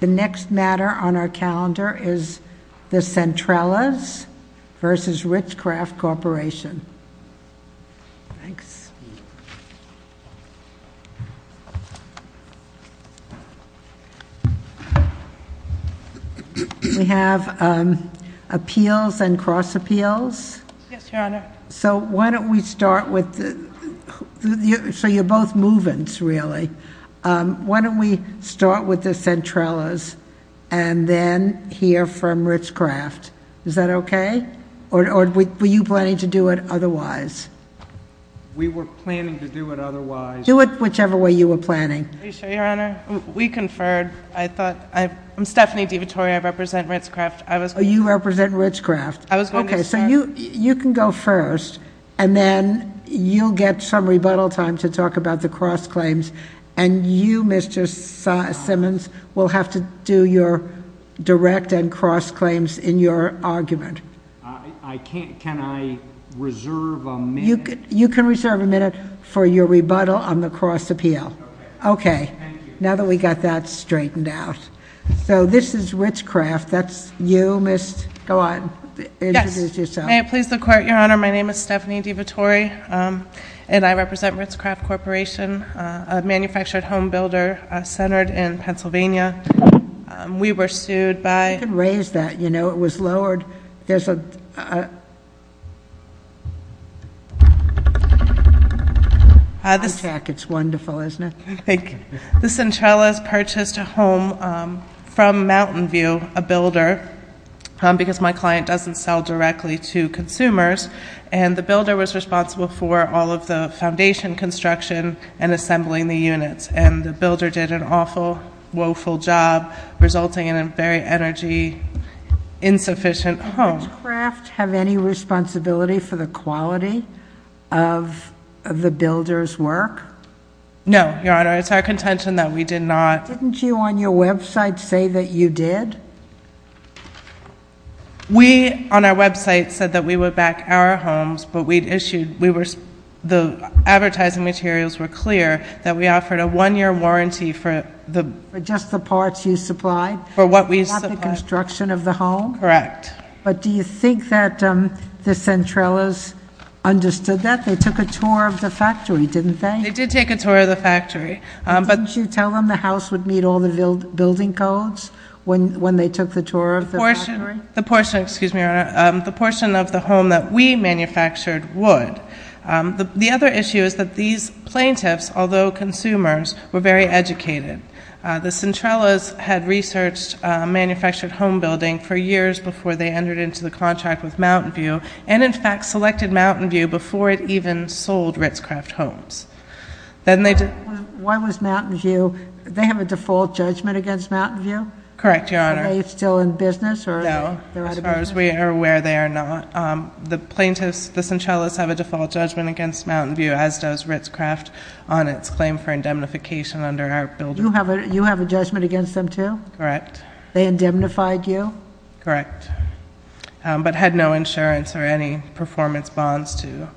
The next matter on our calendar is the Centrellas v. RitzCraft Corporation. We have Appeals and Cross-Appeals. Yes, Your Honor. So why don't we start with the, so you're both move-ins really. Why don't we start with the Centrellas and then hear from RitzCraft. Is that okay? Or were you planning to do it otherwise? We were planning to do it otherwise. Do it whichever way you were planning. Are you sure, Your Honor? We conferred. I thought, I'm Stephanie DeVitore. I represent RitzCraft. You represent RitzCraft. I was going to say. Okay, so you can go first. And then you'll get some rebuttal time to talk about the cross-claims. And you, Mr. Simmons, will have to do your direct and cross-claims in your argument. I can't. Can I reserve a minute? You can reserve a minute for your rebuttal on the cross-appeal. Okay. Okay. Thank you. Now that we got that straightened out. So this is RitzCraft. That's you, Mr. Simmons. Go on. Introduce yourself. May it please the Court, Your Honor. My name is Stephanie DeVitore. And I represent RitzCraft Corporation, a manufactured home builder centered in Pennsylvania. We were sued by. You can raise that. You know, it was lowered. There's a. It's wonderful, isn't it? Thank you. The Centralis purchased a home from Mountain View, a builder, because my client doesn't sell directly to consumers. And the builder was responsible for all of the foundation construction and assembling the units. And the builder did an awful, woeful job, resulting in a very energy insufficient home. Does RitzCraft have any responsibility for the quality of the builder's work? No, Your Honor. It's our contention that we did not. Didn't you, on your website, say that you did? We, on our website, said that we would back our homes. But we'd issued. We were. The advertising materials were clear that we offered a one-year warranty for the. For just the parts you supplied? For what we supplied. Not the construction of the home? Correct. But do you think that the Centralis understood that? They took a tour of the factory, didn't they? They did take a tour of the factory. Didn't you tell them the house would meet all the building codes when they took the tour of the factory? The portion, excuse me, Your Honor, the portion of the home that we manufactured would. The other issue is that these plaintiffs, although consumers, were very educated. The Centralis had researched manufactured home building for years before they entered into the contract with Mountain View, and, in fact, selected Mountain View before it even sold Ritz-Craft homes. Then they. Why was Mountain View. They have a default judgment against Mountain View? Correct, Your Honor. Are they still in business? No. As far as we are aware, they are not. The plaintiffs, the Centralis, have a default judgment against Mountain View, as does Ritz-Craft, on its claim for indemnification under our building. You have a judgment against them, too? Correct. They indemnified you? Correct. But had no insurance or any performance bonds, too.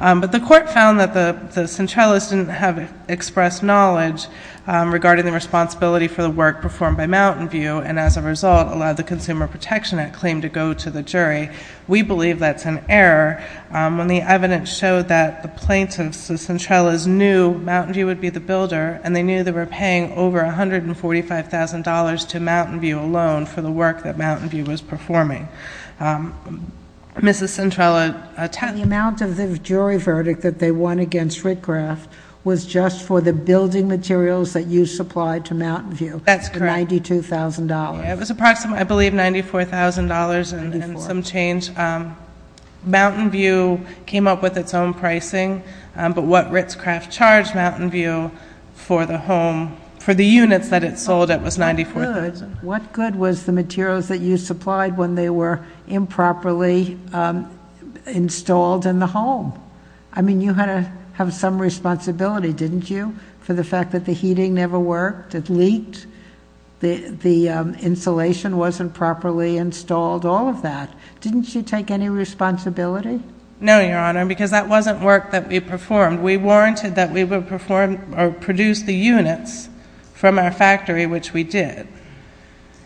But the court found that the Centralis didn't have expressed knowledge regarding the responsibility for the work performed by Mountain View and, as a result, allowed the Consumer Protection Act claim to go to the jury. We believe that's an error. When the evidence showed that the plaintiffs, the Centralis, knew Mountain View would be the builder and they knew they were paying over $145,000 to Mountain View alone for the work that Mountain View was performing, Mrs. Centralis attempted. The amount of the jury verdict that they won against Ritz-Craft was just for the building materials that you supplied to Mountain View. That's correct. The $92,000. It was approximately, I believe, $94,000 and some change. Mountain View came up with its own pricing, but what Ritz-Craft charged Mountain View for the home, for the units that it sold, it was $94,000. What good was the materials that you supplied when they were improperly installed in the home? I mean, you had to have some responsibility, didn't you, for the fact that the heating never worked, it leaked, the insulation wasn't properly installed, all of that. Didn't you take any responsibility? No, Your Honor, because that wasn't work that we performed. We warranted that we would produce the units from our factory, which we did.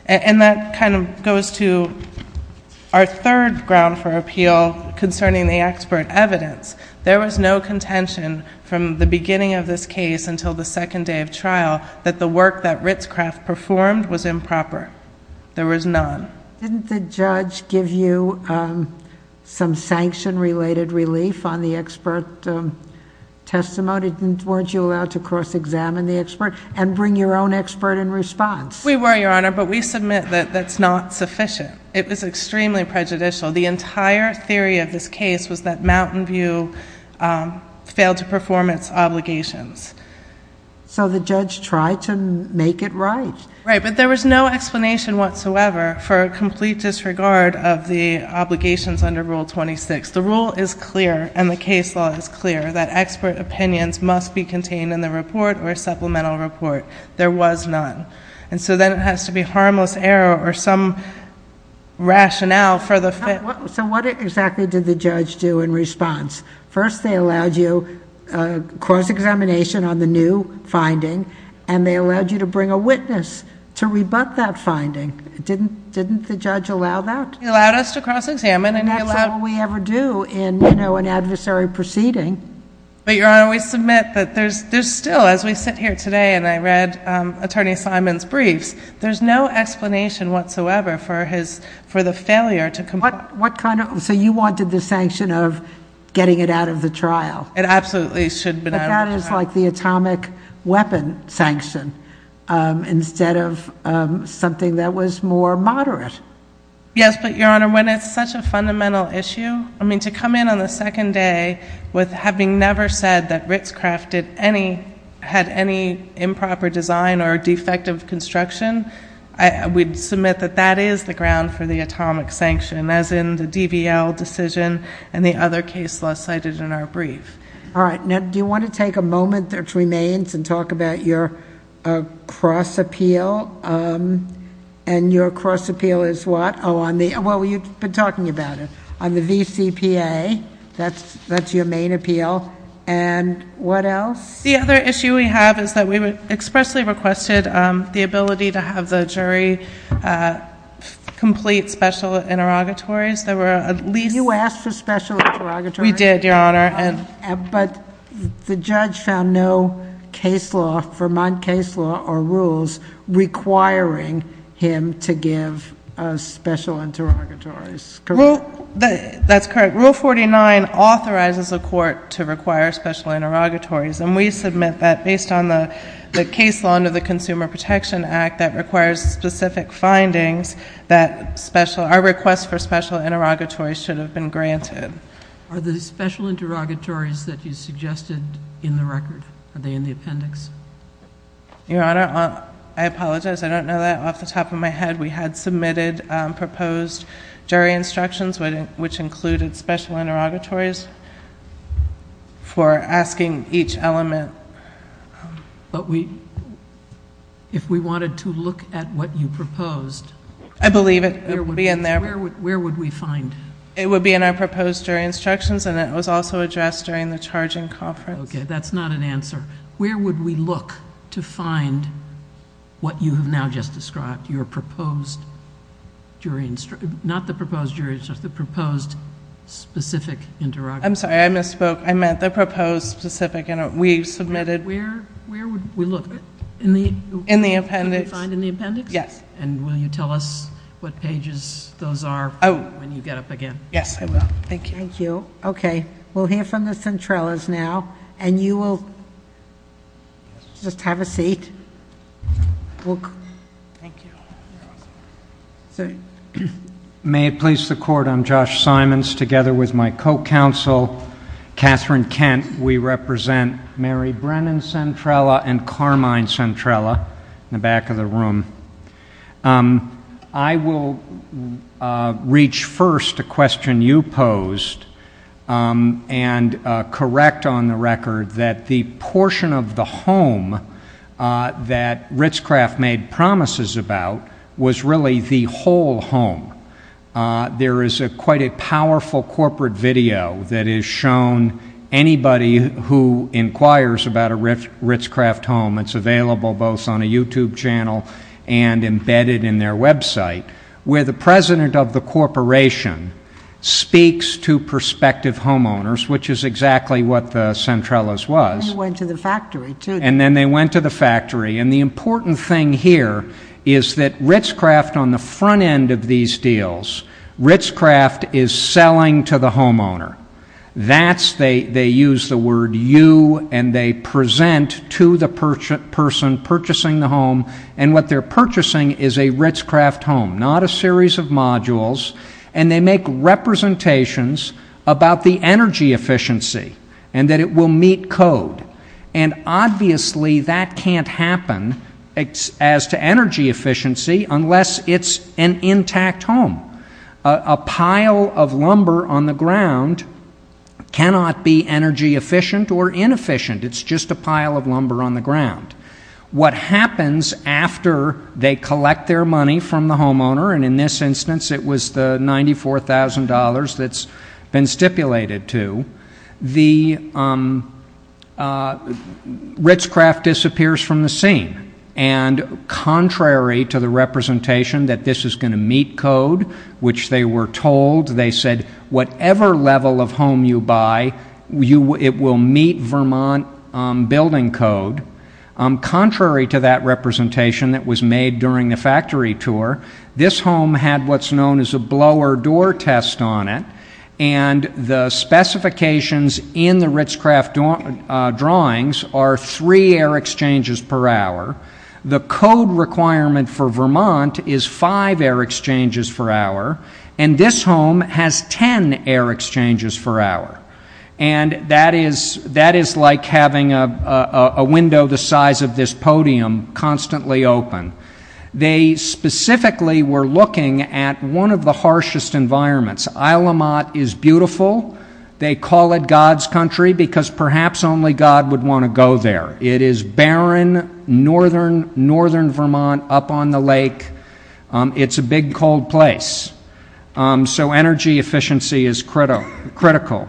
And that kind of goes to our third ground for appeal concerning the expert evidence. There was no contention from the beginning of this case until the second day of trial that the work that Ritz-Craft performed was improper. There was none. Didn't the judge give you some sanction-related relief on the expert testimony? Weren't you allowed to cross-examine the expert and bring your own expert in response? We were, Your Honor, but we submit that that's not sufficient. It was extremely prejudicial. The entire theory of this case was that Mountain View failed to perform its obligations. So the judge tried to make it right. Right, but there was no explanation whatsoever for a complete disregard of the obligations under Rule 26. The rule is clear and the case law is clear that expert opinions must be contained in the report or supplemental report. There was none. And so then it has to be harmless error or some rationale for the... So what exactly did the judge do in response? First, they allowed you cross-examination on the new finding and they allowed you to bring a witness to rebut that finding. Didn't the judge allow that? He allowed us to cross-examine and he allowed... And that's all we ever do in an adversary proceeding. But, Your Honor, we submit that there's still, as we sit here today and I read Attorney Simon's briefs, there's no explanation whatsoever for the failure to comply. So you wanted the sanction of getting it out of the trial. It absolutely should have been out of the trial. But that is like the atomic weapon sanction instead of something that was more moderate. Yes, but, Your Honor, when it's such a fundamental issue, I mean, to come in on the second day with having never said that Ritzcraft had any improper design or defective construction, we submit that that is the ground for the atomic sanction, as in the DVL decision and the other case law cited in our brief. All right. Now, do you want to take a moment that remains and talk about your cross-appeal? And your cross-appeal is what? Oh, on the... well, you've been talking about it. On the VCPA, that's your main appeal. And what else? The other issue we have is that we expressly requested the ability to have the jury complete special interrogatories. There were at least... You asked for special interrogatories? We did, Your Honor. But the judge found no case law, Vermont case law or rules, requiring him to give special interrogatories. That's correct. Rule 49 authorizes a court to require special interrogatories. And we submit that, based on the case law under the Consumer Protection Act that requires specific findings, that our request for special interrogatories should have been granted. Are the special interrogatories that you suggested in the record, are they in the appendix? Your Honor, I apologize. We did. We had submitted proposed jury instructions, which included special interrogatories for asking each element. But if we wanted to look at what you proposed... I believe it would be in there. Where would we find it? It would be in our proposed jury instructions, and it was also addressed during the charging conference. Okay. That's not an answer. Where would we look to find what you have now just described, your proposed jury... not the proposed jury instructions, the proposed specific interrogatory? I'm sorry. I misspoke. I meant the proposed specific. We submitted... Where would we look? In the appendix. In the appendix? Yes. And will you tell us what pages those are when you get up again? Yes, I will. Thank you. Thank you. Okay. We'll hear from the Centrellas now, and you will just have a seat. Thank you. May it please the Court. I'm Josh Simons, together with my co-counsel, Catherine Kent. We represent Mary Brennan Centrella and Carmine Centrella in the back of the room. I will reach first a question you posed and correct on the record that the portion of the home that Ritz-Craft made promises about was really the whole home. There is quite a powerful corporate video that has shown anybody who inquires about a Ritz-Craft home... It's available both on a YouTube channel and embedded in their website, where the president of the corporation speaks to prospective homeowners, which is exactly what the Centrellas was. And they went to the factory, too. And then they went to the factory. And the important thing here is that Ritz-Craft, on the front end of these deals, Ritz-Craft is selling to the homeowner. That's... they use the word you and they present to the person purchasing the home. And what they're purchasing is a Ritz-Craft home, not a series of modules. And they make representations about the energy efficiency and that it will meet code. And obviously, that can't happen as to energy efficiency, unless it's an intact home. A pile of lumber on the ground cannot be energy efficient or inefficient. It's just a pile of lumber on the ground. What happens after they collect their money from the homeowner, and in this instance, it was the $94,000 that's been stipulated to... The Ritz-Craft disappears from the scene. And, contrary to the representation that this is going to meet code, which they were told... They said, whatever level of home you buy, it will meet Vermont building code. Contrary to that representation that was made during the factory tour, this home had what's known as a blower door test on it. And, the specifications in the Ritz-Craft drawings are three air exchanges per hour. The code requirement for Vermont is five air exchanges per hour. And, this home has ten air exchanges per hour. And, that is like having a window the size of this podium, constantly open. They specifically were looking at one of the harshest environments. Islemont is beautiful. They call it God's country, because perhaps only God would want to go there. It is barren, northern Vermont, up on the lake. It's a big, cold place. So, energy efficiency is critical.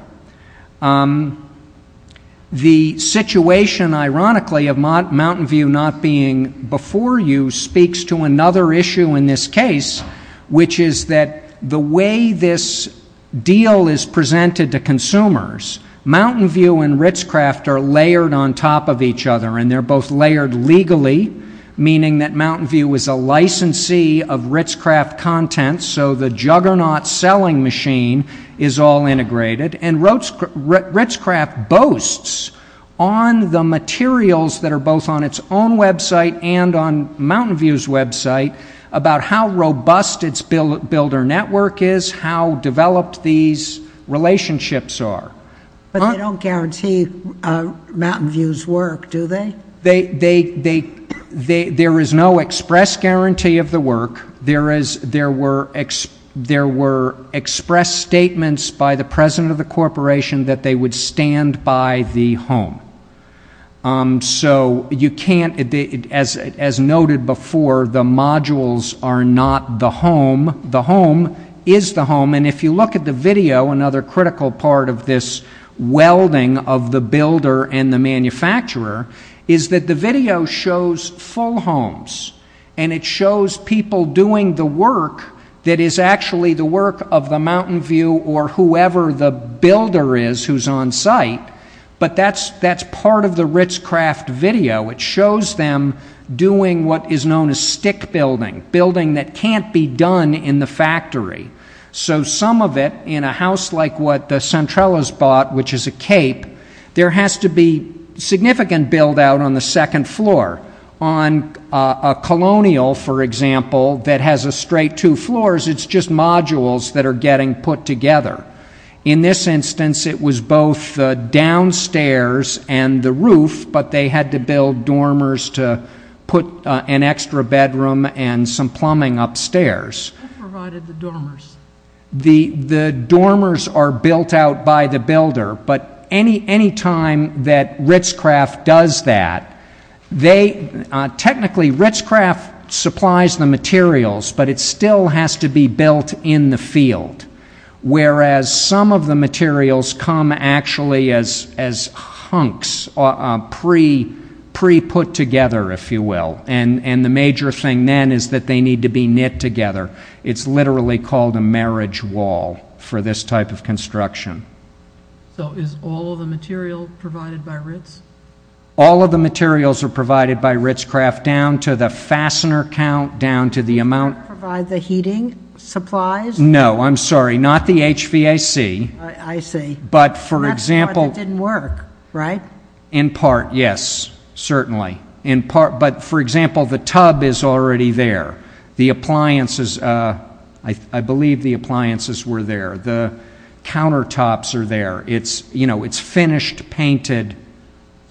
The situation, ironically, of Mountain View not being before you, speaks to another issue in this case, which is that the way this deal is presented to consumers, Mountain View and Ritz-Craft are layered on top of each other. And, they're both layered legally, meaning that Mountain View is a licensee of Ritz-Craft content. So, the juggernaut selling machine is all integrated. And, Ritz-Craft boasts on the materials that are both on its own website and on Mountain View's website about how robust its builder network is, how developed these relationships are. But, they don't guarantee Mountain View's work, do they? There is no express guarantee of the work. There were expressed statements by the president of the corporation that they would stand by the home. So, as noted before, the modules are not the home. The home is the home. And, if you look at the video, another critical part of this welding of the builder and the manufacturer, is that the video shows full homes. And, it shows people doing the work that is actually the work of the Mountain View or whoever the builder is who's on site. But, that's part of the Ritz-Craft video. It shows them doing what is known as stick building, building that can't be done in the factory. So, some of it in a house like what the Centrellas bought, which is a cape, there has to be significant build out on the second floor. On a colonial, for example, that has a straight two floors, it's just modules that are getting put together. In this instance, it was both downstairs and the roof, but they had to build dormers to put an extra bedroom and some plumbing upstairs. Who provided the dormers? The dormers are built out by the builder, but any time that Ritz-Craft does that, technically Ritz-Craft supplies the materials, but it still has to be built in the field. Whereas, some of the materials come actually as hunks, pre-put together, if you will. The major thing then is that they need to be knit together. It's literally called a marriage wall for this type of construction. So, is all of the material provided by Ritz? All of the materials are provided by Ritz-Craft, down to the fastener count, down to the amount... Do you provide the heating supplies? No, I'm sorry, not the HVAC. I see. But, for example... That's why it didn't work, right? In part, yes, certainly. But, for example, the tub is already there. The appliances, I believe the appliances were there. The countertops are there. It's finished, painted.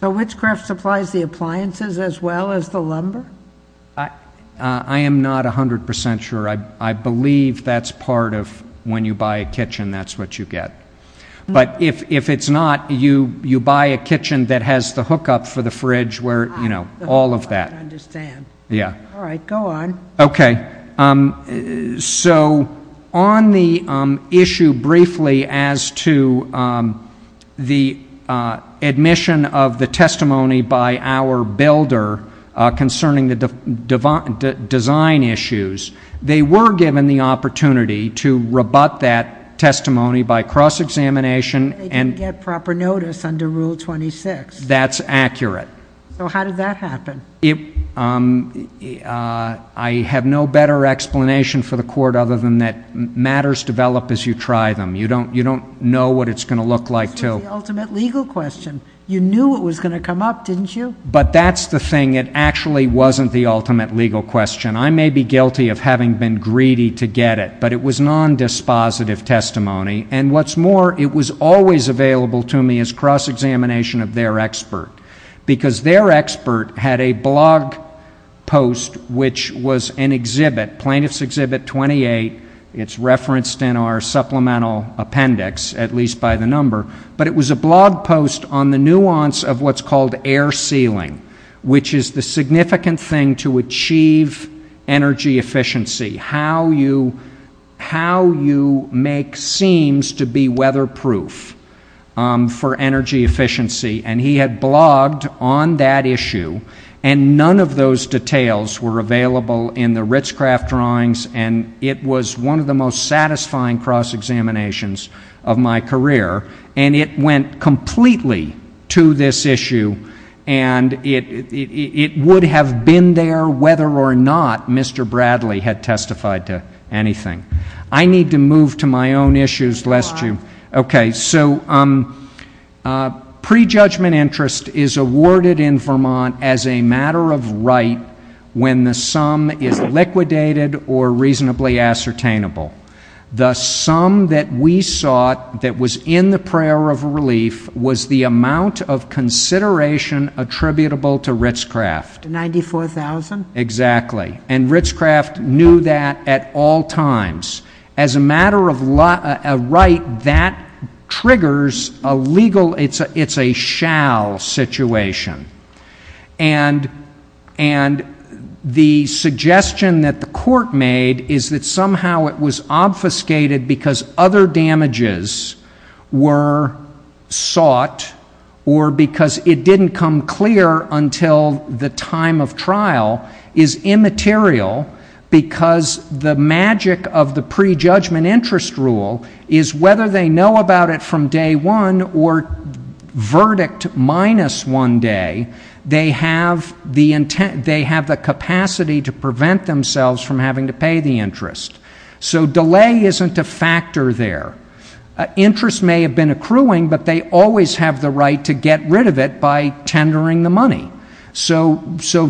So, Ritz-Craft supplies the appliances as well as the lumber? I am not 100% sure. I believe that's part of when you buy a kitchen, that's what you get. But, if it's not, you buy a kitchen that has the hookup for the fridge, where, you know, all of that. I don't quite understand. Yeah. All right, go on. Okay. So, on the issue briefly as to the admission of the testimony by our builder concerning the design issues, they were given the opportunity to rebut that testimony by cross-examination and... They didn't get proper notice under Rule 26. That's accurate. So, how did that happen? I have no better explanation for the Court other than that matters develop as you try them. You don't know what it's going to look like to... This was the ultimate legal question. You knew it was going to come up, didn't you? But, that's the thing. It actually wasn't the ultimate legal question. I may be guilty of having been greedy to get it, but it was non-dispositive testimony. And, what's more, it was always available to me as cross-examination of their expert, because their expert had a blog post which was an exhibit, Plaintiff's Exhibit 28. It's referenced in our supplemental appendix, at least by the number. But, it was a blog post on the nuance of what's called air sealing, which is the significant thing to achieve energy efficiency, how you make seams to be weatherproof for energy efficiency. And, he had blogged on that issue. And, none of those details were available in the Ritz-Craft drawings. And, it was one of the most satisfying cross-examinations of my career. And, it went completely to this issue. And, it would have been there whether or not Mr. Bradley had testified to anything. I need to move to my own issues, lest you... So, prejudgment interest is awarded in Vermont as a matter of right when the sum is liquidated or reasonably ascertainable. The sum that we sought that was in the prayer of relief was the amount of consideration attributable to Ritz-Craft. 94,000? Exactly. And, Ritz-Craft knew that at all times. As a matter of right, that triggers a legal... It's a shall situation. And, the suggestion that the court made is that somehow it was obfuscated because other damages were sought or because it didn't come clear until the time of trial is immaterial because the magic of the prejudgment interest rule is whether they know about it from day one or verdict minus one day, they have the capacity to prevent themselves from having to pay the interest. So, delay isn't a factor there. Interest may have been accruing, but they always have the right to get rid of it by tendering the money. So,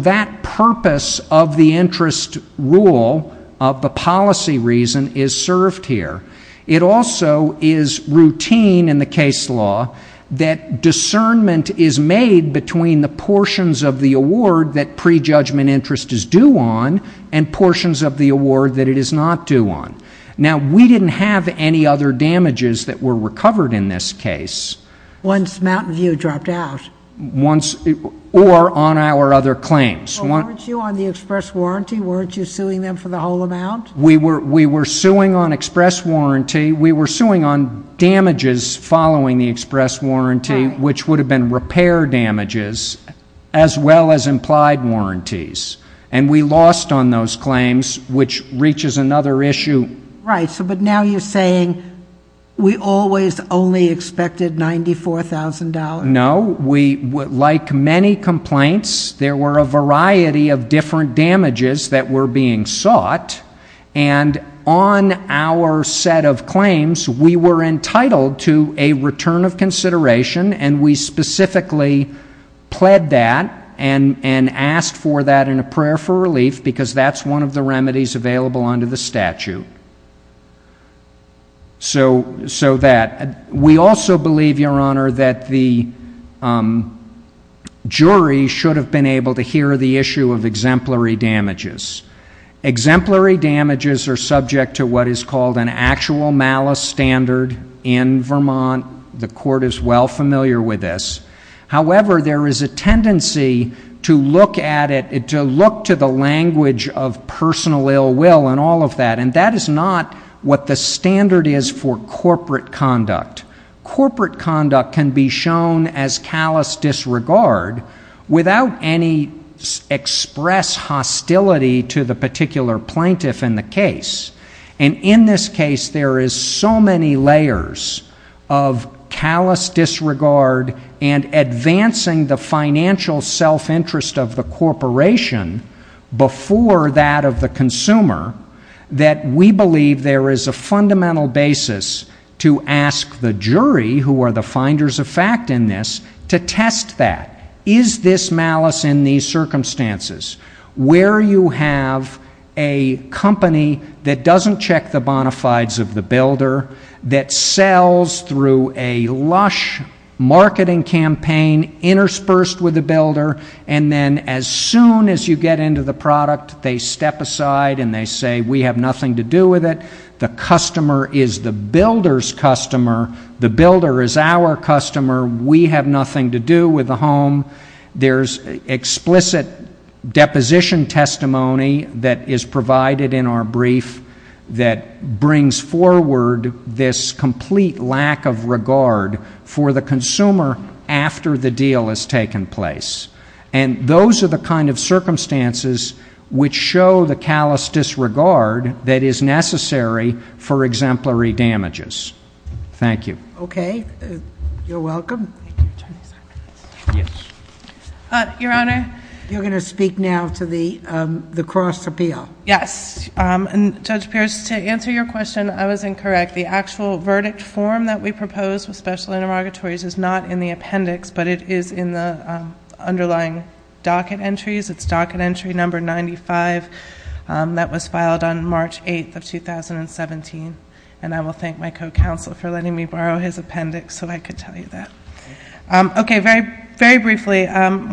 that purpose of the interest rule, of the policy reason, is served here. It also is routine in the case law that discernment is made between the portions of the award that prejudgment interest is due on and portions of the award that it is not due on. Now, we didn't have any other damages that were recovered in this case. Once Mountain View dropped out. Or on our other claims. Well, weren't you on the express warranty? Weren't you suing them for the whole amount? We were suing on express warranty. We were suing on damages following the express warranty, which would have been repair damages, as well as implied warranties. And, we lost on those claims, which reaches another issue. Right, but now you're saying we always only expected $94,000. No, we, like many complaints, there were a variety of different damages that were being sought. And, on our set of claims, we were entitled to a return of consideration, and we specifically pled that and asked for that in a prayer for relief, because that's one of the remedies available under the statute. So that. We also believe, Your Honor, that the jury should have been able to hear the issue of exemplary damages. Exemplary damages are subject to what is called an actual malice standard. In Vermont, the court is well familiar with this. However, there is a tendency to look at it, to look to the language of personal ill will and all of that. And, that is not what the standard is for corporate conduct. Corporate conduct can be shown as callous disregard without any express hostility to the particular plaintiff in the case. And, in this case, there is so many layers of callous disregard and advancing the financial self-interest of the corporation before that of the consumer, that we believe there is a fundamental basis to ask the jury, who are the finders of fact in this, to test that. Is this malice in these circumstances, where you have a company that doesn't check the bona fides of the builder, that sells through a lush marketing campaign interspersed with the builder, and then, as soon as you get into the product, they step aside and they say, we have nothing to do with it. The customer is the builder's customer. The builder is our customer. We have nothing to do with the home. There is explicit deposition testimony that is provided in our brief that brings forward this complete lack of regard for the consumer after the deal has taken place. And those are the kind of circumstances which show the callous disregard that is necessary for exemplary damages. Thank you. Okay. You're welcome. Your Honor. You're going to speak now to the cross appeal. Yes. And, Judge Pierce, to answer your question, I was incorrect. The actual verdict form that we proposed with special interrogatories is not in the appendix, but it is in the underlying docket entries. It's docket entry number 95. That was filed on March 8th of 2017. And I will thank my co-counsel for letting me borrow his appendix so I could tell you that. Okay. Very briefly,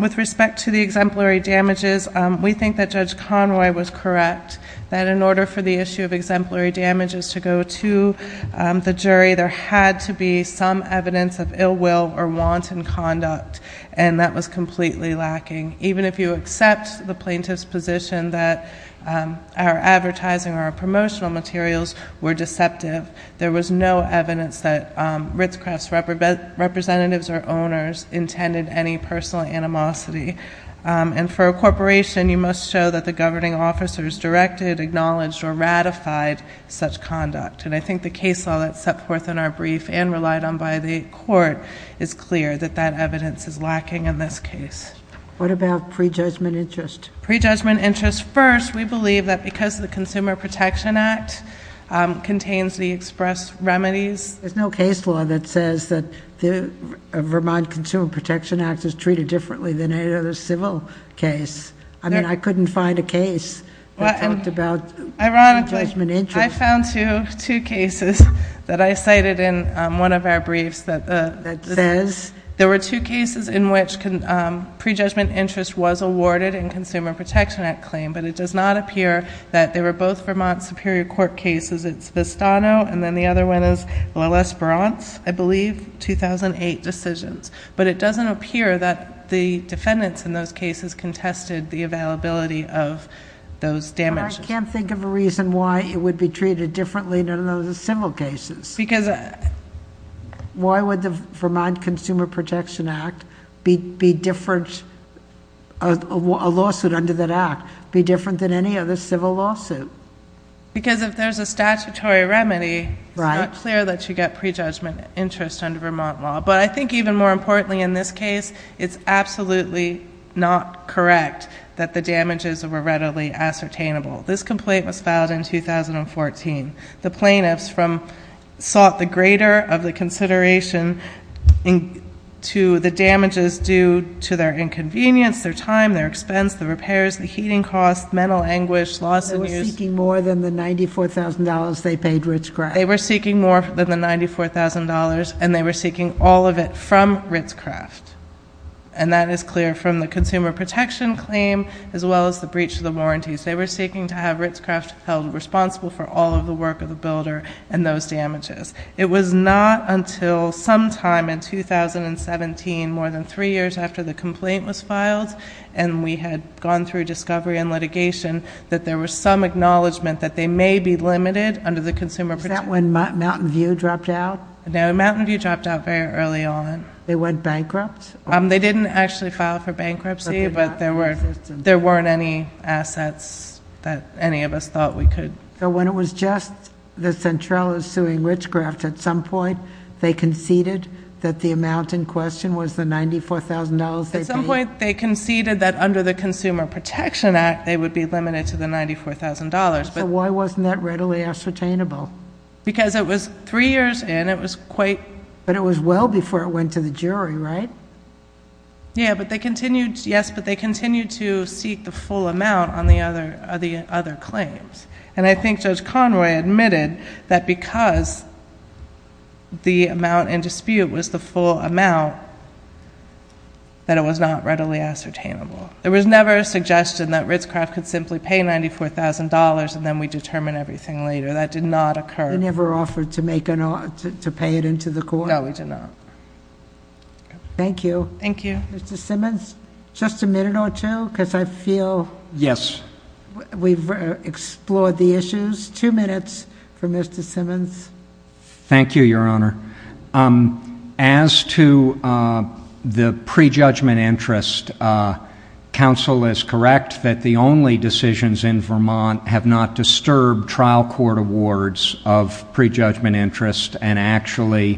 with respect to the exemplary damages, we think that Judge Conroy was correct, that in order for the issue of exemplary damages to go to the jury, there had to be some evidence of ill will or wanton conduct, and that was completely lacking. Even if you accept the plaintiff's position that our advertising or our promotional materials were deceptive, there was no evidence that Ritz-Cross representatives or owners intended any personal animosity. And for a corporation, you must show that the governing officer has directed, acknowledged, or ratified such conduct. And I think the case law that's set forth in our brief and relied on by the court is clear that that evidence is lacking in this case. What about prejudgment interest? Prejudgment interest. First, we believe that because the Consumer Protection Act contains the express remedies. There's no case law that says that the Vermont Consumer Protection Act is treated differently than any other civil case. I mean, I couldn't find a case that talked about prejudgment interest. Ironically, I found two cases that I cited in one of our briefs that says there were two cases in which prejudgment interest was awarded in Consumer Protection Act claim, but it does not appear that they were both Vermont Superior Court cases. It's Vistano, and then the other one is La Lesperance, I believe, 2008 decisions. But it doesn't appear that the defendants in those cases contested the availability of those damages. But I can't think of a reason why it would be treated differently than other civil cases. Because... Why would the Vermont Consumer Protection Act be different, a lawsuit under that act, be different than any other civil lawsuit? Because if there's a statutory remedy, it's not clear that you get prejudgment interest under Vermont law. But I think even more importantly in this case, it's absolutely not correct that the damages were readily ascertainable. This complaint was filed in 2014. The plaintiffs sought the greater of the consideration to the damages due to their inconvenience, their time, their expense, the repairs, the heating costs, mental anguish, loss of news. They were seeking more than the $94,000 they paid Rich Grant. They were seeking more than the $94,000, and they were seeking all of it from Ritz-Craft. And that is clear from the consumer protection claim as well as the breach of the warranties. They were seeking to have Ritz-Craft held responsible for all of the work of the builder and those damages. It was not until sometime in 2017, more than three years after the complaint was filed, and we had gone through discovery and litigation, that there was some acknowledgment that they may be limited Is that when Mountain View dropped out? No, Mountain View dropped out very early on. They went bankrupt? They didn't actually file for bankruptcy, but there weren't any assets that any of us thought we could. So when it was just the Centrales suing Ritz-Craft, at some point they conceded that the amount in question was the $94,000 they paid? At some point they conceded that under the Consumer Protection Act they would be limited to the $94,000. So why wasn't that readily ascertainable? Because it was three years in, it was quite... But it was well before it went to the jury, right? Yes, but they continued to seek the full amount on the other claims. And I think Judge Conroy admitted that because the amount in dispute was the full amount, that it was not readily ascertainable. There was never a suggestion that Ritz-Craft could simply pay $94,000 and then we determine everything later. That did not occur. They never offered to pay it into the court? No, we did not. Thank you. Thank you. Mr. Simmons, just a minute or two, because I feel we've explored the issues. Two minutes for Mr. Simmons. Thank you, Your Honor. As to the prejudgment interest, counsel is correct that the only decisions in Vermont have not disturbed trial court awards of prejudgment interest. And actually,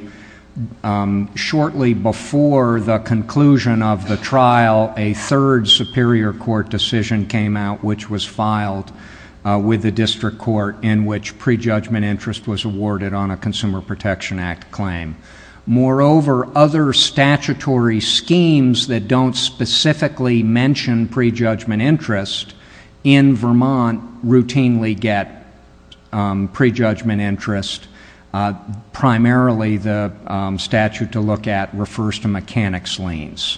shortly before the conclusion of the trial, a third superior court decision came out, which was filed with the district court, in which prejudgment interest was awarded on a Consumer Protection Act claim. Moreover, other statutory schemes that don't specifically mention prejudgment interest in Vermont routinely get prejudgment interest. Primarily, the statute to look at refers to mechanics liens.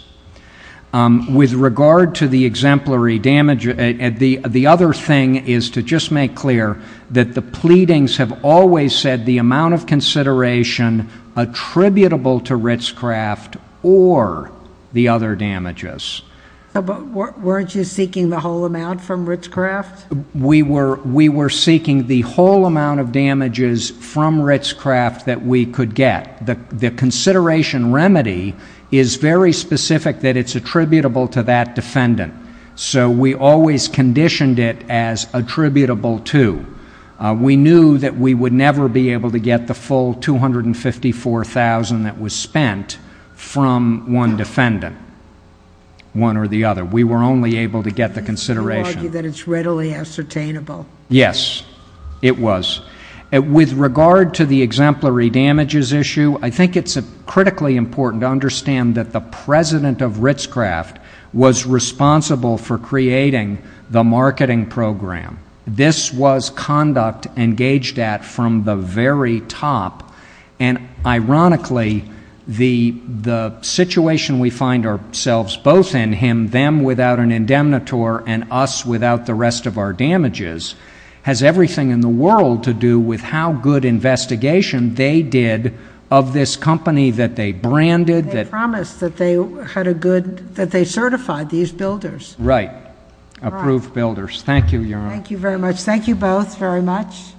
With regard to the exemplary damage, the other thing is to just make clear that the pleadings have always said the amount of consideration attributable to Ritz-Craft or the other damages. But weren't you seeking the whole amount from Ritz-Craft? We were seeking the whole amount of damages from Ritz-Craft that we could get. The consideration remedy is very specific that it's attributable to that defendant, so we always conditioned it as attributable to. We knew that we would never be able to get the full $254,000 that was spent from one defendant, one or the other. We were only able to get the consideration. You argue that it's readily ascertainable. Yes, it was. With regard to the exemplary damages issue, I think it's critically important to understand that the president of Ritz-Craft was responsible for creating the marketing program. This was conduct engaged at from the very top. And ironically, the situation we find ourselves both in, him without an indemnitor and us without the rest of our damages, has everything in the world to do with how good investigation they did of this company that they branded. They promised that they certified these builders. Right. Approved builders. Thank you, Your Honor. Thank you very much. Thank you both very much.